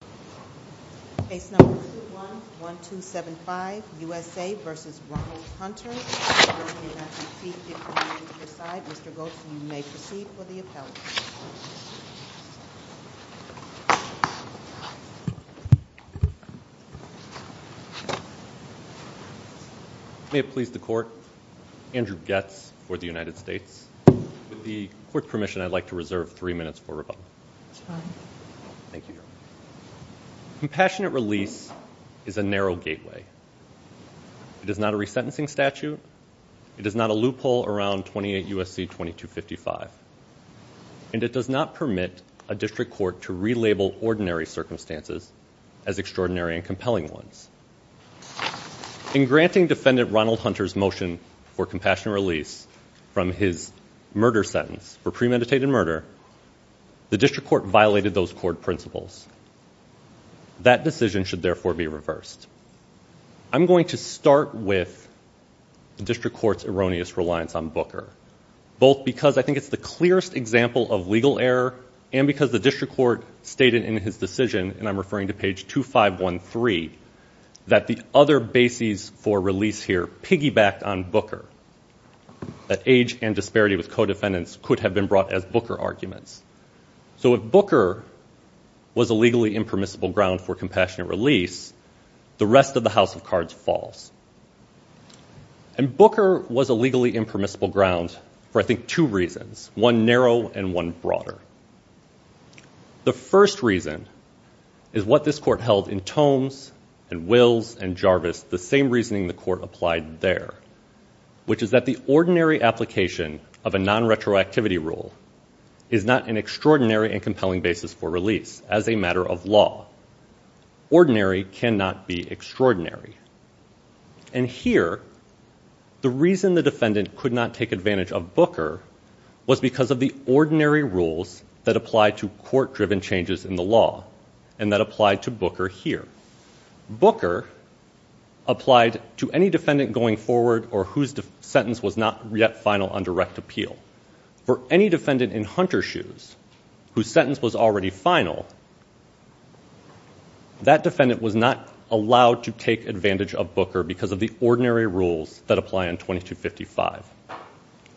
May it please the Court, Andrew Goetz for the United States. With the Court's permission, I'd like to reserve three minutes for rebuttal. Compassionate release is a narrow gateway. It is not a resentencing statute. It is not a loophole around 28 U.S.C. 2255. And it does not permit a district court to relabel ordinary circumstances as extraordinary and compelling ones. In granting defendant Ronald Hunter's motion for compassionate release from his murder sentence for premeditated murder, the district court violated those court principles. That decision should therefore be reversed. I'm going to start with the district court's erroneous reliance on Booker, both because I think it's the clearest example of legal error, and because the district court stated in his decision, and I'm referring to page 2513, that the other bases for release here piggybacked on Booker. That age and disparity with co-defendants could have been brought as Booker arguments. So if Booker was a legally impermissible ground for compassionate release, the rest of the House of Cards falls. And Booker was a legally impermissible ground for, I think, two reasons, one narrow and one broader. The first reason is what this court held in Tomes and Wills and Jarvis, the same reasoning the court applied there, which is that the ordinary application of a non-retroactivity rule is not an extraordinary and compelling basis for release as a matter of law. Ordinary cannot be extraordinary. And here, the reason the defendant could not take advantage of Booker was because of the ordinary rules that apply to court-driven changes in the law, and that apply to Booker here. Booker applied to any defendant going forward or whose sentence was not yet final on direct appeal. For any defendant in Hunter's shoes whose sentence was already final, that defendant was not allowed to take advantage of Booker because of the ordinary rules that apply in 2255.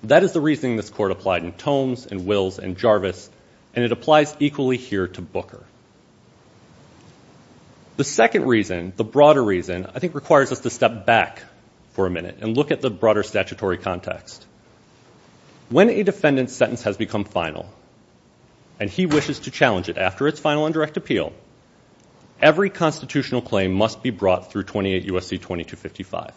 That is the reasoning this court applied in Tomes and Wills and Jarvis, and it applies equally here to Booker. The second reason, the broader reason, I think requires us to step back for a minute and look at the broader statutory context. When a defendant's sentence has become final and he wishes to challenge it after its final on direct appeal, every constitutional claim must be brought through 28 U.S.C. 2255,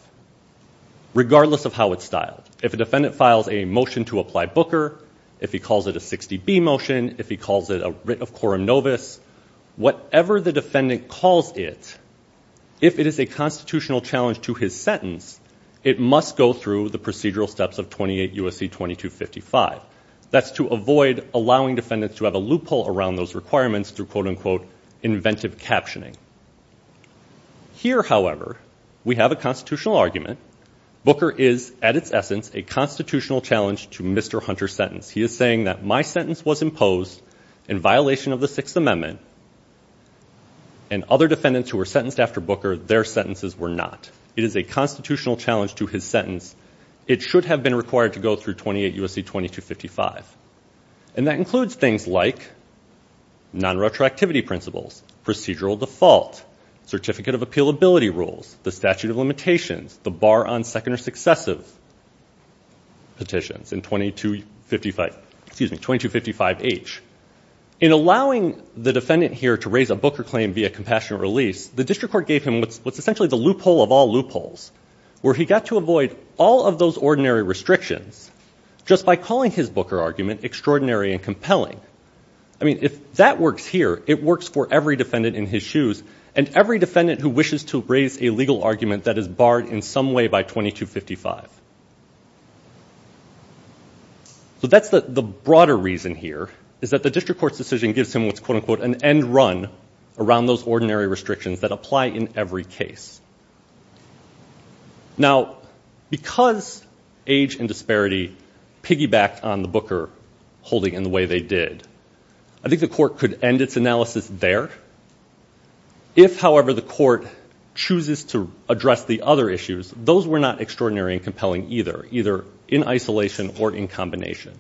regardless of how it's styled. If a defendant files a motion to apply Booker, if he calls it a 60B motion, if he calls it a writ of quorum novis, whatever the defendant calls it, if it is a constitutional challenge to his sentence, it must go through the procedural steps of 28 U.S.C. 2255. That's to avoid allowing defendants to have a loophole around those requirements through, quote-unquote, inventive captioning. Here, however, we have a constitutional argument. Booker is, at its essence, a constitutional challenge to Mr. Hunter's sentence. He is saying that my sentence was imposed in violation of the Sixth Amendment, and other defendants who were sentenced after Booker, their sentences were not. It is a constitutional challenge to his sentence. It should have been required to go through 28 U.S.C. 2255. And that includes things like non-retroactivity principles, procedural default, certificate of appealability rules, the statute of limitations, the bar on second or successive petitions in 2255H. In allowing the defendant here to raise a Booker claim via compassionate release, the district court gave him what's essentially the loophole of all loopholes, where he got to avoid all of those ordinary restrictions just by calling his Booker argument extraordinary and compelling. I mean, if that works here, it works for every defendant in his shoes, and every defendant who wishes to raise a legal argument that is barred in some way by 2255. So that's the broader reason here, is that the district court's decision gives him what's, quote-unquote, an end run around those ordinary restrictions that apply in every case. Now, because age and disparity piggybacked on the Booker holding in the way they did, I think the court could end its analysis there. If, however, the court chooses to address the other issues, those were not extraordinary and compelling either, either in isolation or in combination.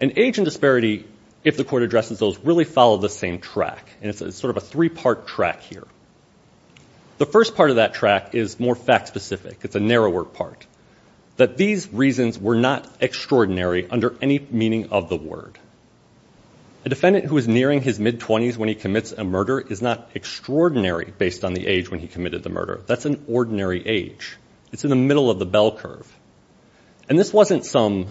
And age and disparity, if the court addresses those, really follow the same track, and it's sort of a three-part track here. The first part of that track is more fact-specific. It's a narrower part, that these reasons were not extraordinary under any meaning of the word. A defendant who is nearing his mid-20s when he commits a murder is not extraordinary based on the age when he committed the murder. That's an ordinary age. It's in the middle of the bell curve. And this wasn't some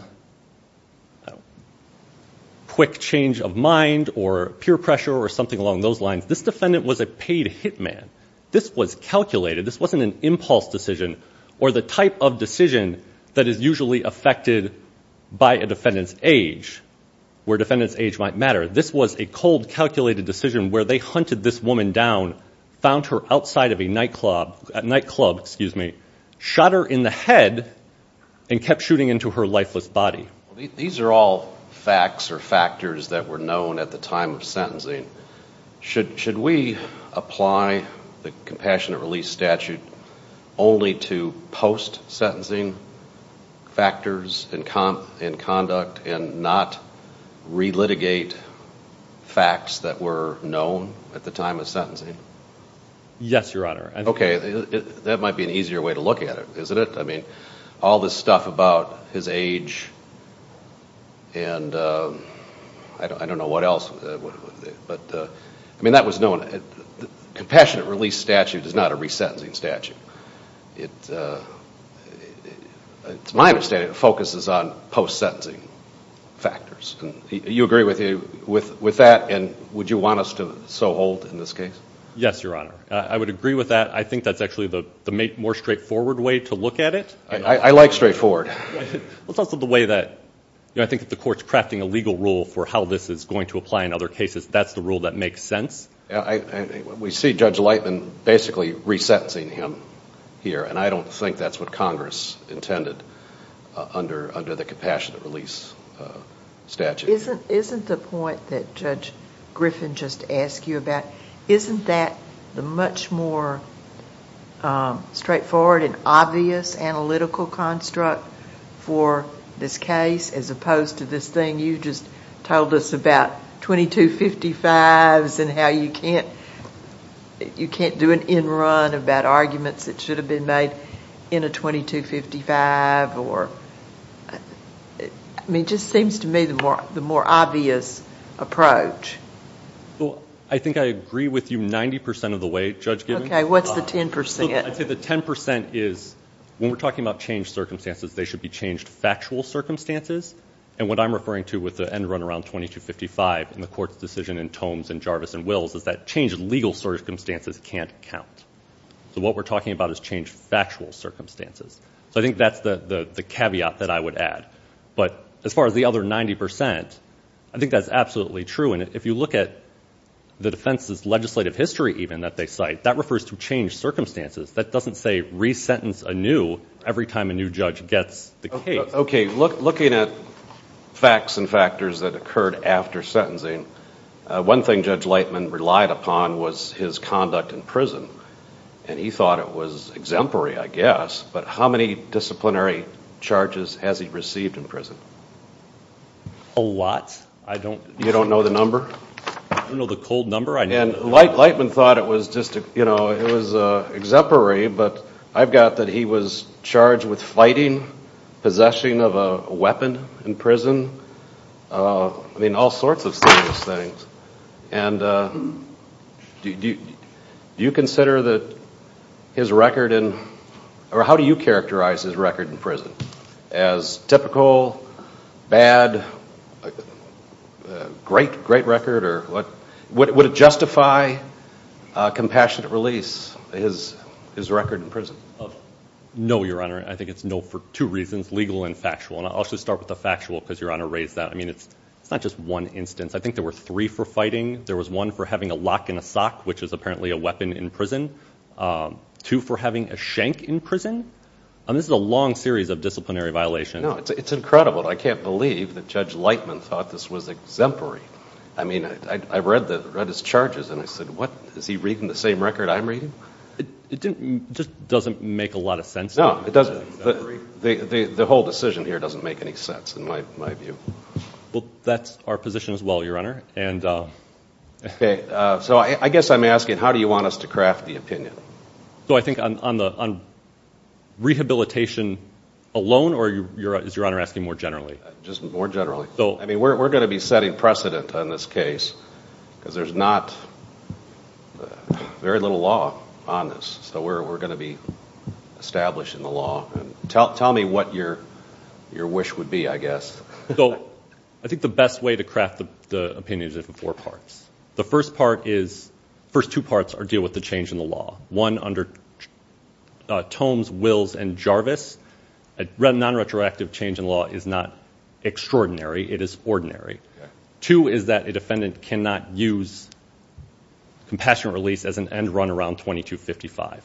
quick change of mind or peer pressure or something along those lines. This defendant was a paid hitman. This was calculated. This wasn't an impulse decision or the type of decision that is usually affected by a defendant's age, where a defendant's age might matter. This was a cold, calculated decision where they hunted this woman down, found her outside of a nightclub, shot her in the head, and kept shooting into her lifeless body. These are all facts or factors that were known at the time of sentencing. Should we apply the Compassionate Release Statute only to post-sentencing factors in conduct and not relitigate facts that were known at the time of sentencing? Yes, Your Honor. Okay. That might be an easier way to look at it, isn't it? I mean, all this stuff about his age and I don't know what else. But, I mean, that was known. The Compassionate Release Statute is not a resentencing statute. To my understanding, it focuses on post-sentencing factors. Do you agree with that, and would you want us to so hold in this case? Yes, Your Honor. I would agree with that. I think that's actually the more straightforward way to look at it. I like straightforward. It's also the way that, you know, I think that the Court's crafting a legal rule for how this is going to apply in other cases. That's the rule that makes sense. We see Judge Lightman basically resentencing him here, and I don't think that's what Congress intended under the Compassionate Release Statute. Isn't the point that Judge Griffin just asked you about, isn't that the much more straightforward and obvious analytical construct for this case, as opposed to this thing you just told us about 2255s and how you can't do an end run about arguments that should have been made in a 2255? I mean, it just seems to me the more obvious approach. Well, I think I agree with you 90% of the way, Judge Griffin. Okay. What's the 10%? I'd say the 10% is when we're talking about changed circumstances, they should be changed factual circumstances, and what I'm referring to with the end run around 2255 in the Court's decision in Tomes and Jarvis and Wills is that changed legal circumstances can't count. So what we're talking about is changed factual circumstances. So I think that's the caveat that I would add. But as far as the other 90%, I think that's absolutely true, and if you look at the defense's legislative history even that they cite, that refers to changed circumstances. That doesn't say resentence anew every time a new judge gets the case. Okay. Looking at facts and factors that occurred after sentencing, one thing Judge Lightman relied upon was his conduct in prison, and he thought it was exemplary, I guess, but how many disciplinary charges has he received in prison? A lot. You don't know the number? I don't know the cold number. Lightman thought it was exemplary, but I've got that he was charged with fighting, possessing of a weapon in prison, all sorts of serious things. And do you consider that his record in, or how do you characterize his record in prison? As typical, bad, great record? Would it justify a compassionate release, his record in prison? No, Your Honor. I think it's no for two reasons, legal and factual, and I'll just start with the factual because Your Honor raised that. I mean, it's not just one instance. I think there were three for fighting. There was one for having a lock in a sock, which is apparently a weapon in prison, two for having a shank in prison. I mean, this is a long series of disciplinary violations. No, it's incredible. I can't believe that Judge Lightman thought this was exemplary. I mean, I read his charges and I said, what, is he reading the same record I'm reading? It just doesn't make a lot of sense. No, it doesn't. The whole decision here doesn't make any sense in my view. Well, that's our position as well, Your Honor. Okay. So I guess I'm asking, how do you want us to craft the opinion? So I think on rehabilitation alone, or is Your Honor asking more generally? Just more generally. I mean, we're going to be setting precedent on this case because there's not very little law on this, so we're going to be establishing the law. Tell me what your wish would be, I guess. So I think the best way to craft the opinion is in four parts. The first part is, the first two parts deal with the change in the law. One, under Tomes, Wills, and Jarvis, a non-retroactive change in law is not extraordinary, it is ordinary. Two is that a defendant cannot use compassionate release as an end run around 2255.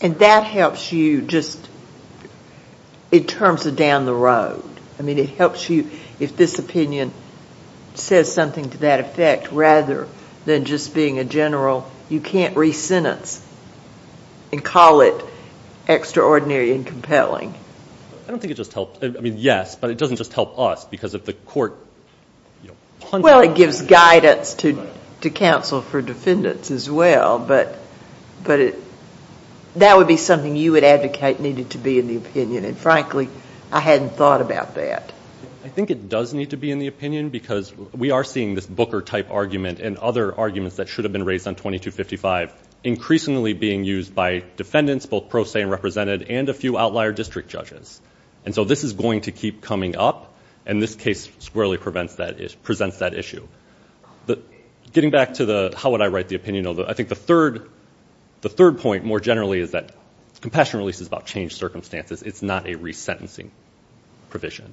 And that helps you just in terms of down the road. I mean, it helps you if this opinion says something to that effect rather than just being a general, you can't re-sentence and call it extraordinary and compelling. I don't think it just helps. I mean, yes, but it doesn't just help us because of the court. Well, it gives guidance to counsel for defendants as well, but that would be something you would advocate needed to be in the opinion, and frankly, I hadn't thought about that. I think it does need to be in the opinion because we are seeing this Booker-type argument and other arguments that should have been raised on 2255 increasingly being used by defendants, both pro se and represented, and a few outlier district judges. And so this is going to keep coming up, and this case squarely presents that issue. Getting back to the how would I write the opinion, I think the third point more generally is that compassion release is about changed circumstances. It's not a re-sentencing provision.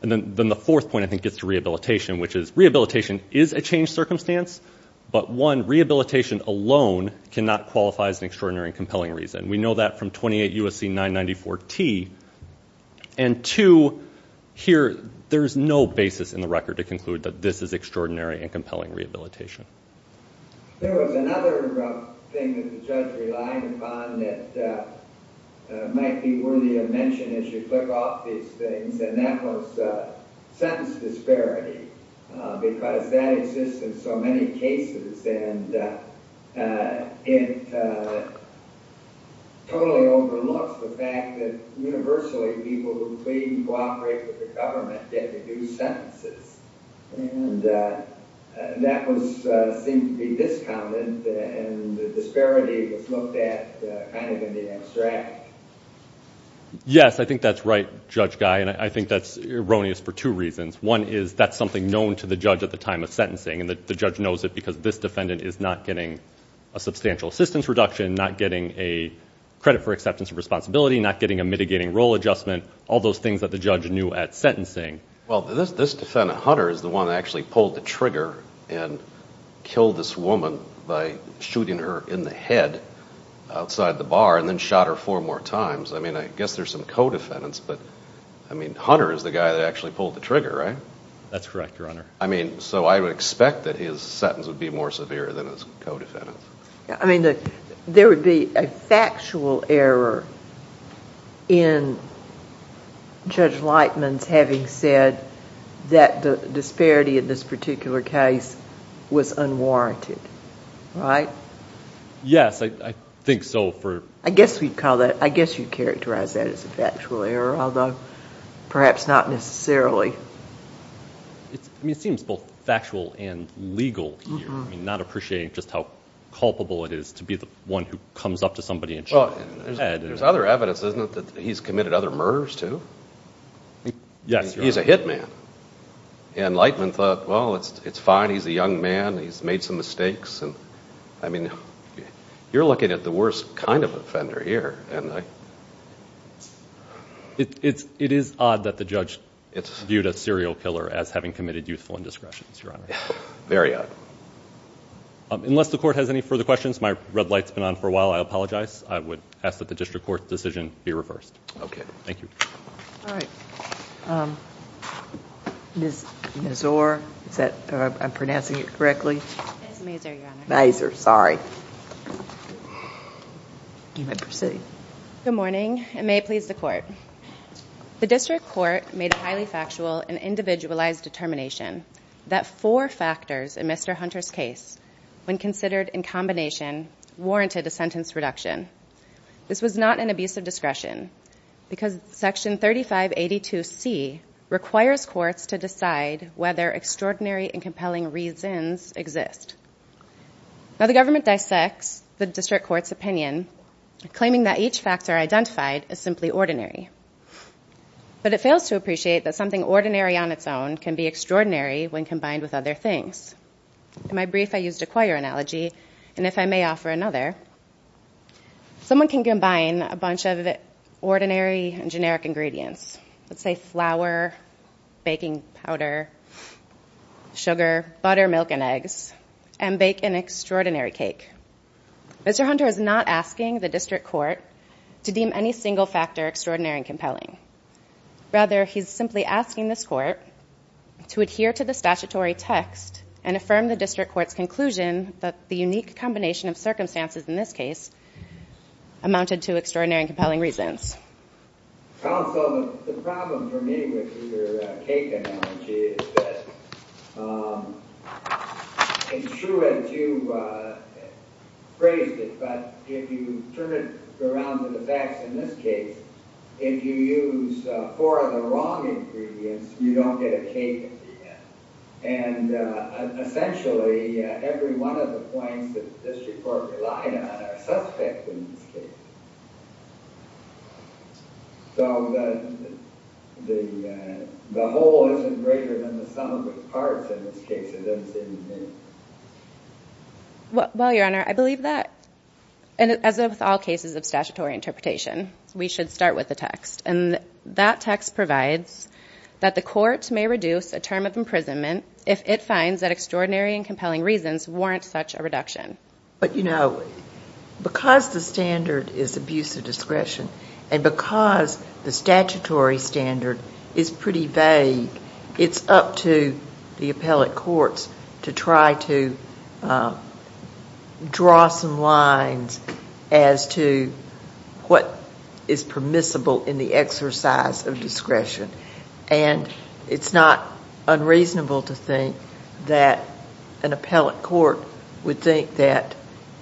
And then the fourth point I think gets to rehabilitation, which is rehabilitation is a changed circumstance, but one, rehabilitation alone cannot qualify as an extraordinary and compelling reason. We know that from 28 U.S.C. 994T, and two, here there's no basis in the record to conclude that this is extraordinary and compelling rehabilitation. There was another thing that the judge relied upon that might be worthy of mention as you flip off these things, and that was sentence disparity because that exists in so many cases, and it totally overlooks the fact that universally people who plead and cooperate with the government get to do sentences. And that seemed to be discommon, and the disparity was looked at kind of in the abstract. Yes, I think that's right, Judge Guy, and I think that's erroneous for two reasons. One is that's something known to the judge at the time of sentencing, and the judge knows it because this defendant is not getting a substantial assistance reduction, not getting a credit for acceptance of responsibility, all those things that the judge knew at sentencing. Well, this defendant, Hunter, is the one that actually pulled the trigger and killed this woman by shooting her in the head outside the bar and then shot her four more times. I mean, I guess there's some co-defendants, but, I mean, Hunter is the guy that actually pulled the trigger, right? That's correct, Your Honor. I mean, so I would expect that his sentence would be more severe than his co-defendants. I mean, there would be a factual error in Judge Lightman's having said that the disparity in this particular case was unwarranted, right? Yes, I think so. I guess you'd characterize that as a factual error, although perhaps not necessarily. I mean, it seems both factual and legal here. I mean, not appreciating just how culpable it is to be the one who comes up to somebody and shoots them in the head There's other evidence, isn't there, that he's committed other murders too? Yes, Your Honor. He's a hit man. And Lightman thought, well, it's fine, he's a young man, he's made some mistakes. I mean, you're looking at the worst kind of offender here. It is odd that the judge viewed a serial killer as having committed youthful indiscretions, Your Honor. Very odd. Unless the Court has any further questions, my red light's been on for a while, I apologize. I would ask that the District Court's decision be reversed. Okay. Thank you. All right. Ms. Mazur, is that how I'm pronouncing it correctly? It's Mazur, Your Honor. Mazur, sorry. You may proceed. Good morning, and may it please the Court. The District Court made a highly factual and individualized determination that four factors in Mr. Hunter's case, when considered in combination, warranted a sentence reduction. This was not an abuse of discretion, because Section 3582C requires courts to decide whether extraordinary and compelling reasons exist. Now, the government dissects the District Court's opinion, claiming that each factor identified is simply ordinary. But it fails to appreciate that something ordinary on its own can be extraordinary when combined with other things. In my brief, I used a choir analogy, and if I may offer another, someone can combine a bunch of ordinary and generic ingredients, let's say flour, baking powder, sugar, butter, milk, and eggs, and bake an extraordinary cake. Mr. Hunter is not asking the District Court to deem any single factor extraordinary and compelling. Rather, he's simply asking this Court to adhere to the statutory text and affirm the District Court's conclusion that the unique combination of circumstances in this case amounted to extraordinary and compelling reasons. Counsel, the problem for me with your cake analogy is that it's true that you phrased it, but if you turn it around to the facts in this case, if you use four of the wrong ingredients, you don't get a cake at the end. And essentially, every one of the points that the District Court relied on are suspect in this case. So the whole isn't greater than the sum of its parts in this case, it doesn't seem to be. Well, Your Honor, I believe that, as with all cases of statutory interpretation, we should start with the text. And that text provides that the Court may reduce a term of imprisonment if it finds that extraordinary and compelling reasons warrant such a reduction. But, you know, because the standard is abuse of discretion and because the statutory standard is pretty vague, it's up to the appellate courts to try to draw some lines as to what is permissible in the exercise of discretion. And it's not unreasonable to think that an appellate court would think that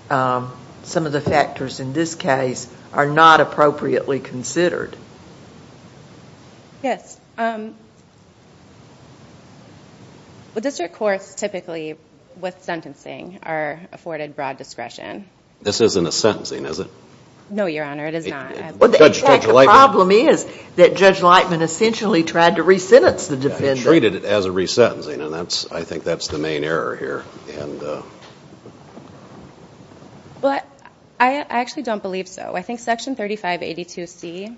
some of the factors in this case are not appropriately considered. Yes. The District Courts typically, with sentencing, are afforded broad discretion. This isn't a sentencing, is it? No, Your Honor, it is not. The problem is that Judge Lightman essentially tried to re-sentence the defendant. He treated it as a re-sentencing, and I think that's the main error here. I actually don't believe so. I think Section 3582C,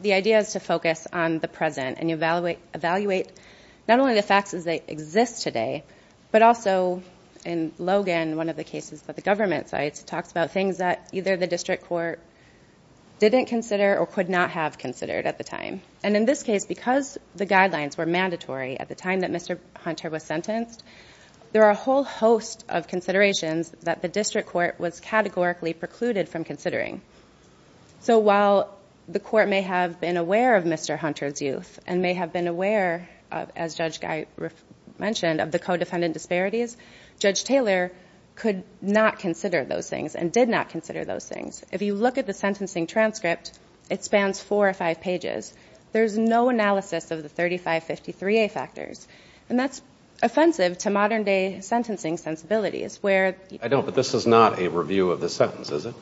the idea is to focus on the present and evaluate not only the facts as they exist today, but also in Logan, one of the cases that the government cites, talks about things that either the District Court didn't consider or could not have considered at the time. And in this case, because the guidelines were mandatory at the time that Mr. Hunter was sentenced, there are a whole host of considerations that the District Court was categorically precluded from considering. So while the court may have been aware of Mr. Hunter's youth and may have been aware, as Judge Guy mentioned, of the co-defendant disparities, Judge Taylor could not consider those things and did not consider those things. If you look at the sentencing transcript, it spans four or five pages. There's no analysis of the 3553A factors, and that's offensive to modern-day sentencing sensibilities. I don't, but this is not a review of the sentence, is it?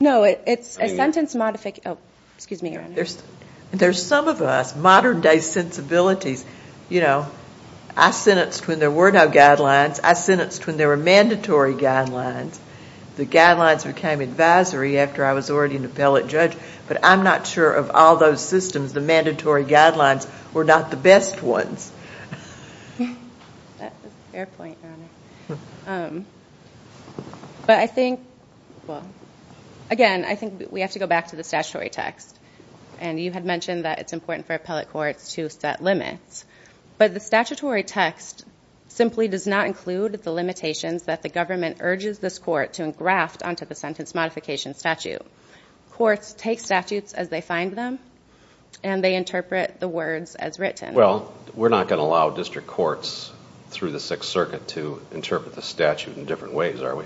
No, it's a sentence modification. There's some of us, modern-day sensibilities. I sentenced when there were no guidelines. I sentenced when there were mandatory guidelines. The guidelines became advisory after I was already an appellate judge, but I'm not sure of all those systems. The mandatory guidelines were not the best ones. Fair point, Your Honor. But I think, well, again, I think we have to go back to the statutory text, and you had mentioned that it's important for appellate courts to set limits, but the statutory text simply does not include the limitations that the government urges this court to engraft onto the sentence modification statute. Courts take statutes as they find them, and they interpret the words as written. Well, we're not going to allow district courts through the Sixth Circuit to interpret the statute in different ways, are we?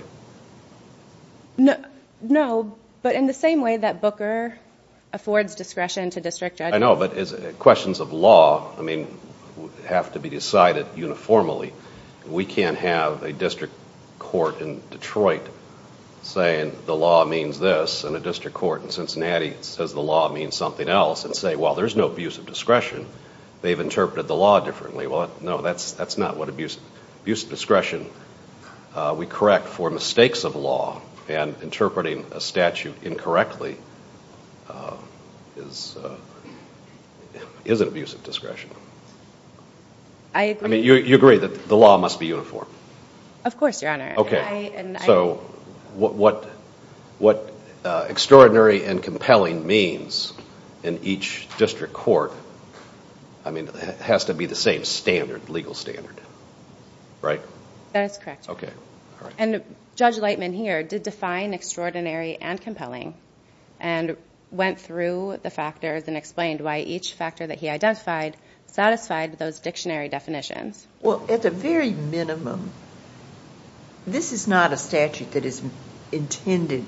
No, but in the same way that Booker affords discretion to district judges. I know, but questions of law have to be decided uniformly. We can't have a district court in Detroit saying the law means this, and a district court in Cincinnati says the law means something else, and say, well, there's no abuse of discretion. They've interpreted the law differently. Well, no, that's not what abuse of discretion. We correct for mistakes of law, and interpreting a statute incorrectly is an abuse of discretion. I agree. I mean, you agree that the law must be uniform? Of course, Your Honor. So what extraordinary and compelling means in each district court has to be the same standard, legal standard, right? That is correct, Your Honor. Judge Lightman here did define extraordinary and compelling and went through the factors and explained why each factor that he identified satisfied those dictionary definitions. Well, at the very minimum, this is not a statute that is intended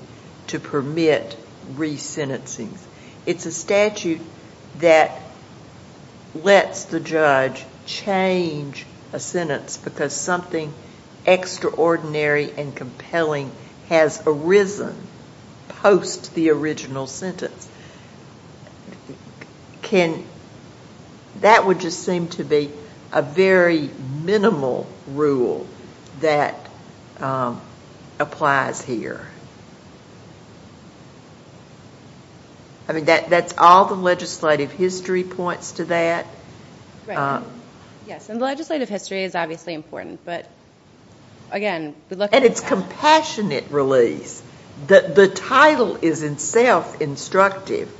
to permit re-sentencing. It's a statute that lets the judge change a sentence because something extraordinary and compelling has arisen post the original sentence. That would just seem to be a very minimal rule that applies here. I mean, that's all the legislative history points to that. Right. Yes, and the legislative history is obviously important, but again, we look at that. And it's compassionate release. The title is in itself instructive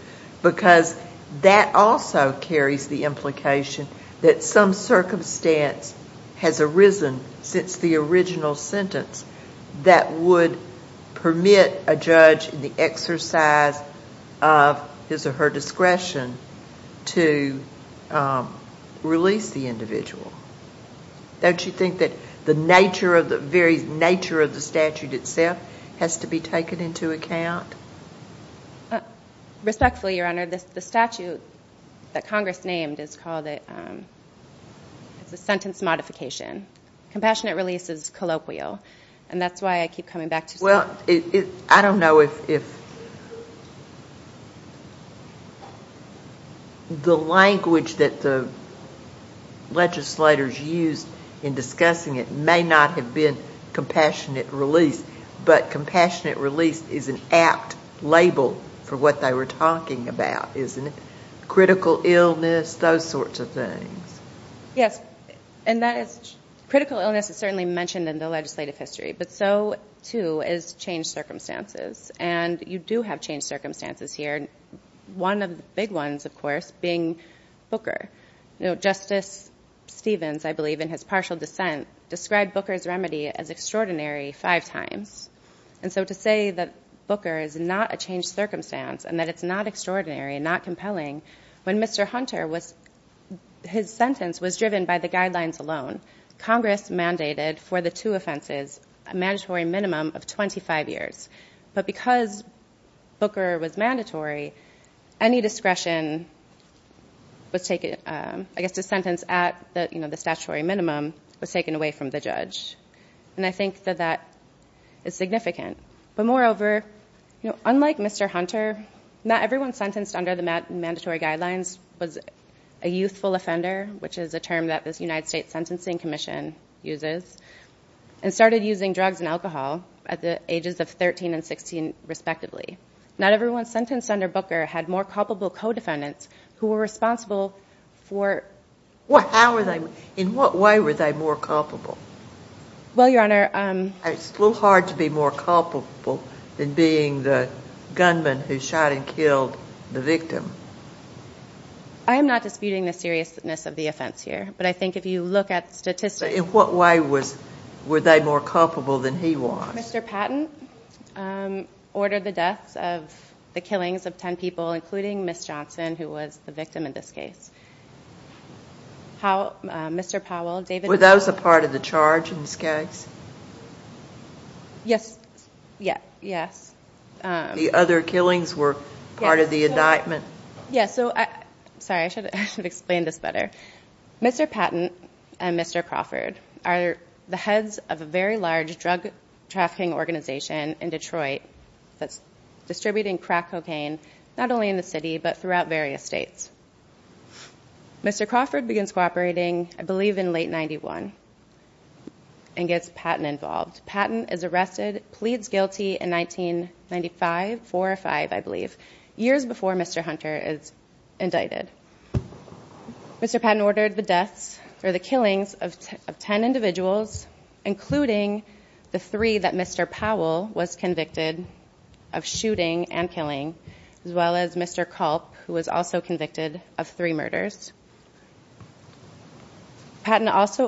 because that also carries the implication that some circumstance has arisen since the original sentence that would permit a judge in the exercise of his or her discretion to release the individual. Don't you think that the very nature of the statute itself has to be taken into account? Respectfully, Your Honor, the statute that Congress named is called the sentence modification. Compassionate release is colloquial, and that's why I keep coming back to it. Well, I don't know if the language that the legislators used in discussing it may not have been compassionate release, but compassionate release is an apt label for what they were talking about, isn't it? Critical illness, those sorts of things. Yes, and critical illness is certainly mentioned in the legislative history, but so, too, is changed circumstances. And you do have changed circumstances here. One of the big ones, of course, being Booker. Justice Stevens, I believe, in his partial dissent, described Booker's remedy as extraordinary five times. And so to say that Booker is not a changed circumstance and that it's not extraordinary and not compelling, when Mr. Hunter, his sentence was driven by the guidelines alone, Congress mandated for the two offenses a mandatory minimum of 25 years. But because Booker was mandatory, any discretion was taken. I guess the sentence at the statutory minimum was taken away from the judge. And I think that that is significant. But moreover, unlike Mr. Hunter, not everyone sentenced under the mandatory guidelines was a youthful offender, which is a term that this United States Sentencing Commission uses, and started using drugs and alcohol at the ages of 13 and 16, respectively. Not everyone sentenced under Booker had more culpable co-defendants who were responsible for... In what way were they more culpable? Well, Your Honor... It's a little hard to be more culpable than being the gunman who shot and killed the victim. I am not disputing the seriousness of the offense here. But I think if you look at statistics... In what way were they more culpable than he was? Mr. Patent ordered the deaths of the killings of 10 people, including Ms. Johnson, who was the victim in this case. Mr. Powell, David... Were those a part of the charge in this case? Yes. The other killings were part of the indictment. Sorry, I should have explained this better. Mr. Patent and Mr. Crawford are the heads of a very large drug-trafficking organization in Detroit that's distributing crack cocaine not only in the city, but throughout various states. Mr. Crawford begins cooperating, I believe, in late 91 and gets Patent involved. Patent is arrested, pleads guilty in 1995, 4 or 5, I believe, years before Mr. Hunter is indicted. Mr. Patent ordered the deaths or the killings of 10 individuals, including the three that Mr. Powell was convicted of shooting and killing, as well as Mr. Culp, who was also convicted of three murders. Patent also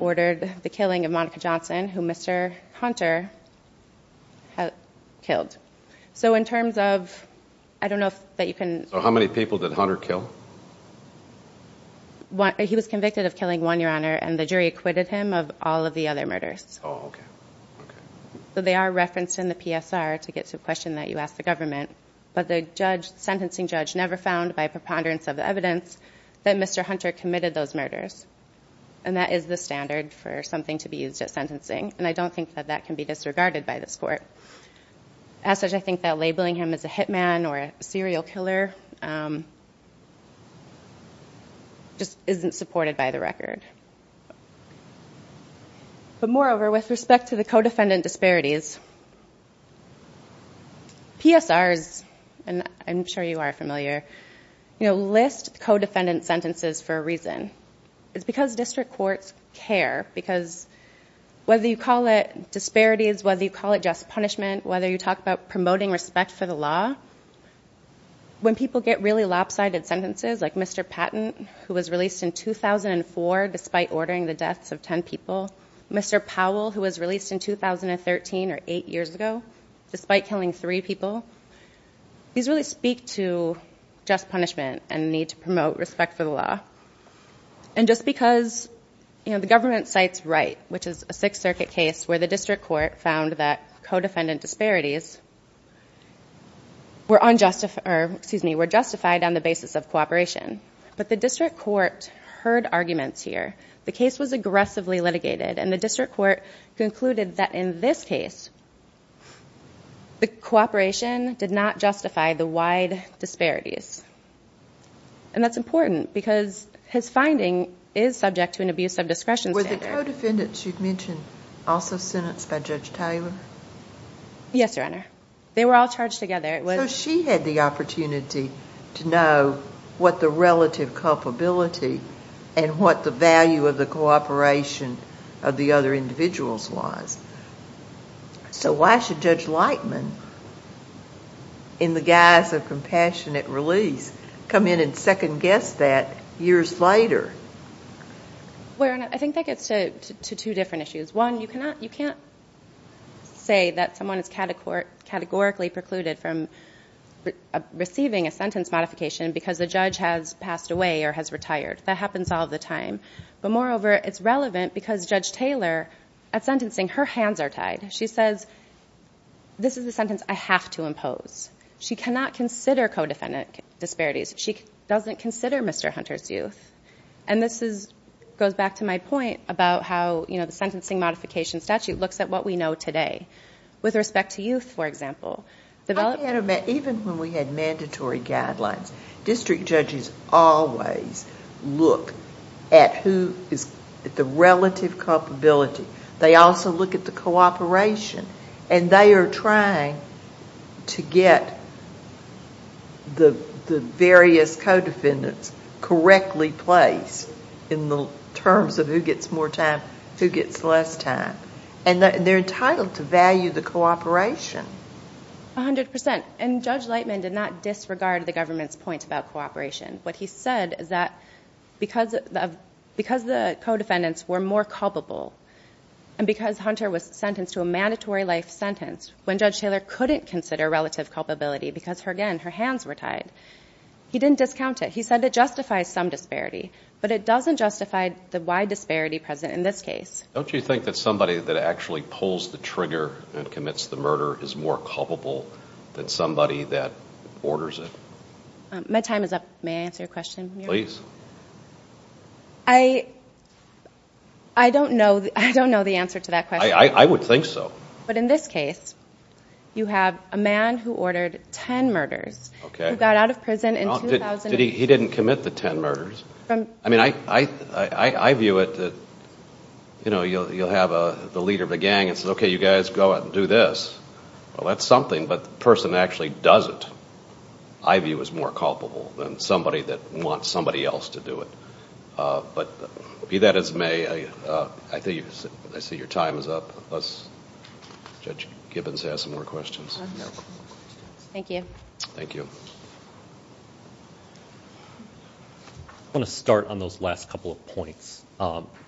ordered the killing of Monica Johnson, who Mr. Hunter killed. So in terms of... I don't know if you can... He was convicted of killing one, Your Honor, and the jury acquitted him of all of the other murders. Oh, okay. They are referenced in the PSR to get to a question that you asked the government, but the sentencing judge never found, by preponderance of the evidence, that Mr. Hunter committed those murders, and that is the standard for something to be used at sentencing, and I don't think that that can be disregarded by this court. As such, I think that labeling him as a hitman or a serial killer just isn't supported by the record. But moreover, with respect to the co-defendant disparities, PSRs, and I'm sure you are familiar, list co-defendant sentences for a reason. It's because district courts care, because whether you call it disparities, whether you call it just punishment, whether you talk about promoting respect for the law, when people get really lopsided sentences, like Mr. Patton, who was released in 2004 despite ordering the deaths of ten people, Mr. Powell, who was released in 2013, or eight years ago, despite killing three people, these really speak to just punishment and the need to promote respect for the law. And just because the government cites Wright, which is a Sixth Circuit case where the district court found that co-defendant disparities were justified on the basis of cooperation, but the district court heard arguments here. The case was aggressively litigated, and the district court concluded that in this case the cooperation did not justify the wide disparities. And that's important, because his finding is subject to an abuse of discretion standard. Were the co-defendants you've mentioned also sentenced by Judge Taylor? Yes, Your Honor. They were all charged together. So she had the opportunity to know what the relative culpability and what the value of the cooperation of the other individuals was. So why should Judge Lightman, in the guise of compassionate release, come in and second-guess that years later? Your Honor, I think that gets to two different issues. One, you can't say that someone is categorically precluded from receiving a sentence modification because the judge has passed away or has retired. That happens all the time. But moreover, it's relevant because Judge Taylor, at sentencing, her hands are tied. She says, this is a sentence I have to impose. She cannot consider co-defendant disparities. She doesn't consider Mr. Hunter's youth. And this goes back to my point about how the sentencing modification statute looks at what we know today. With respect to youth, for example. Even when we had mandatory guidelines, district judges always look at the relative culpability. They also look at the cooperation. And they are trying to get the various co-defendants correctly placed in the terms of who gets more time, who gets less time. And they're entitled to value the cooperation. 100%. And Judge Lightman did not disregard the government's point about cooperation. What he said is that because the co-defendants were more culpable and because Hunter was sentenced to a mandatory life sentence, when Judge Taylor couldn't consider relative culpability because, again, her hands were tied, he didn't discount it. He said it justifies some disparity. But it doesn't justify the wide disparity present in this case. Don't you think that somebody that actually pulls the trigger and commits the murder is more culpable than somebody that orders it? My time is up. May I answer your question? Please. I don't know the answer to that question. I would think so. But in this case, you have a man who ordered 10 murders. He got out of prison in 2008. He didn't commit the 10 murders. I mean, I view it that, you know, you'll have the leader of a gang and say, okay, you guys go out and do this. Well, that's something, but the person actually does it, I view as more culpable than somebody that wants somebody else to do it. But be that as may, I see your time is up. Judge Gibbons has some more questions. Thank you. Thank you. I want to start on those last couple of points.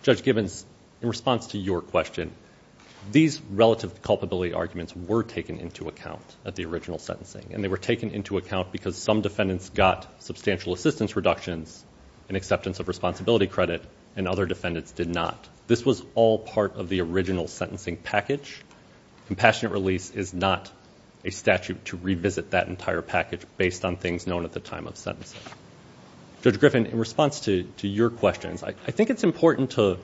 Judge Gibbons, in response to your question, these relative culpability arguments were taken into account at the original sentencing, and they were taken into account because some defendants got substantial assistance reductions and acceptance of responsibility credit, and other defendants did not. This was all part of the original sentencing package. Compassionate release is not a statute to revisit that entire package based on things known at the time of sentencing. Judge Griffin, in response to your questions, I think it's important to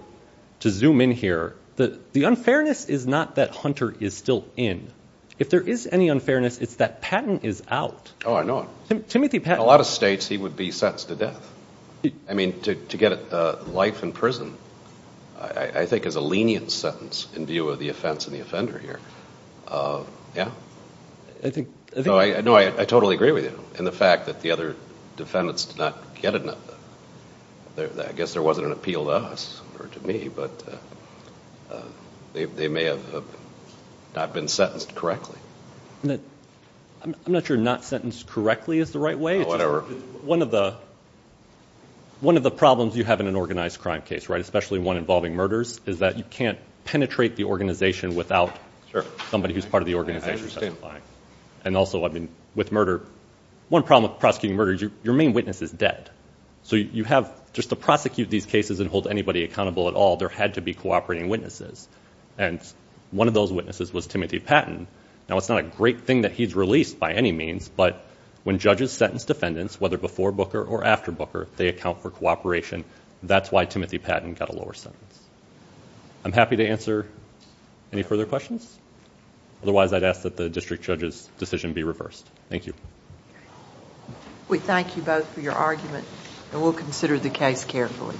zoom in here. The unfairness is not that Hunter is still in. If there is any unfairness, it's that Patton is out. Oh, I know it. Timothy Patton. In a lot of states, he would be sentenced to death. I mean, to get life in prison I think is a lenient sentence in view of the offense and the offender here. Yeah. No, I totally agree with you in the fact that the other defendants did not get enough. I guess there wasn't an appeal to us or to me, but they may have not been sentenced correctly. I'm not sure not sentenced correctly is the right way. Whatever. One of the problems you have in an organized crime case, especially one involving murders, is that you can't penetrate the organization without somebody who's part of the organization testifying. And also, I mean, with murder, one problem with prosecuting murder is your main witness is dead. So just to prosecute these cases and hold anybody accountable at all, there had to be cooperating witnesses, and one of those witnesses was Timothy Patton. Now, it's not a great thing that he's released by any means, but when judges sentence defendants, whether before Booker or after Booker, they account for cooperation. That's why Timothy Patton got a lower sentence. I'm happy to answer any further questions. Otherwise, I'd ask that the district judge's decision be reversed. Thank you. We thank you both for your argument, and we'll consider the case carefully.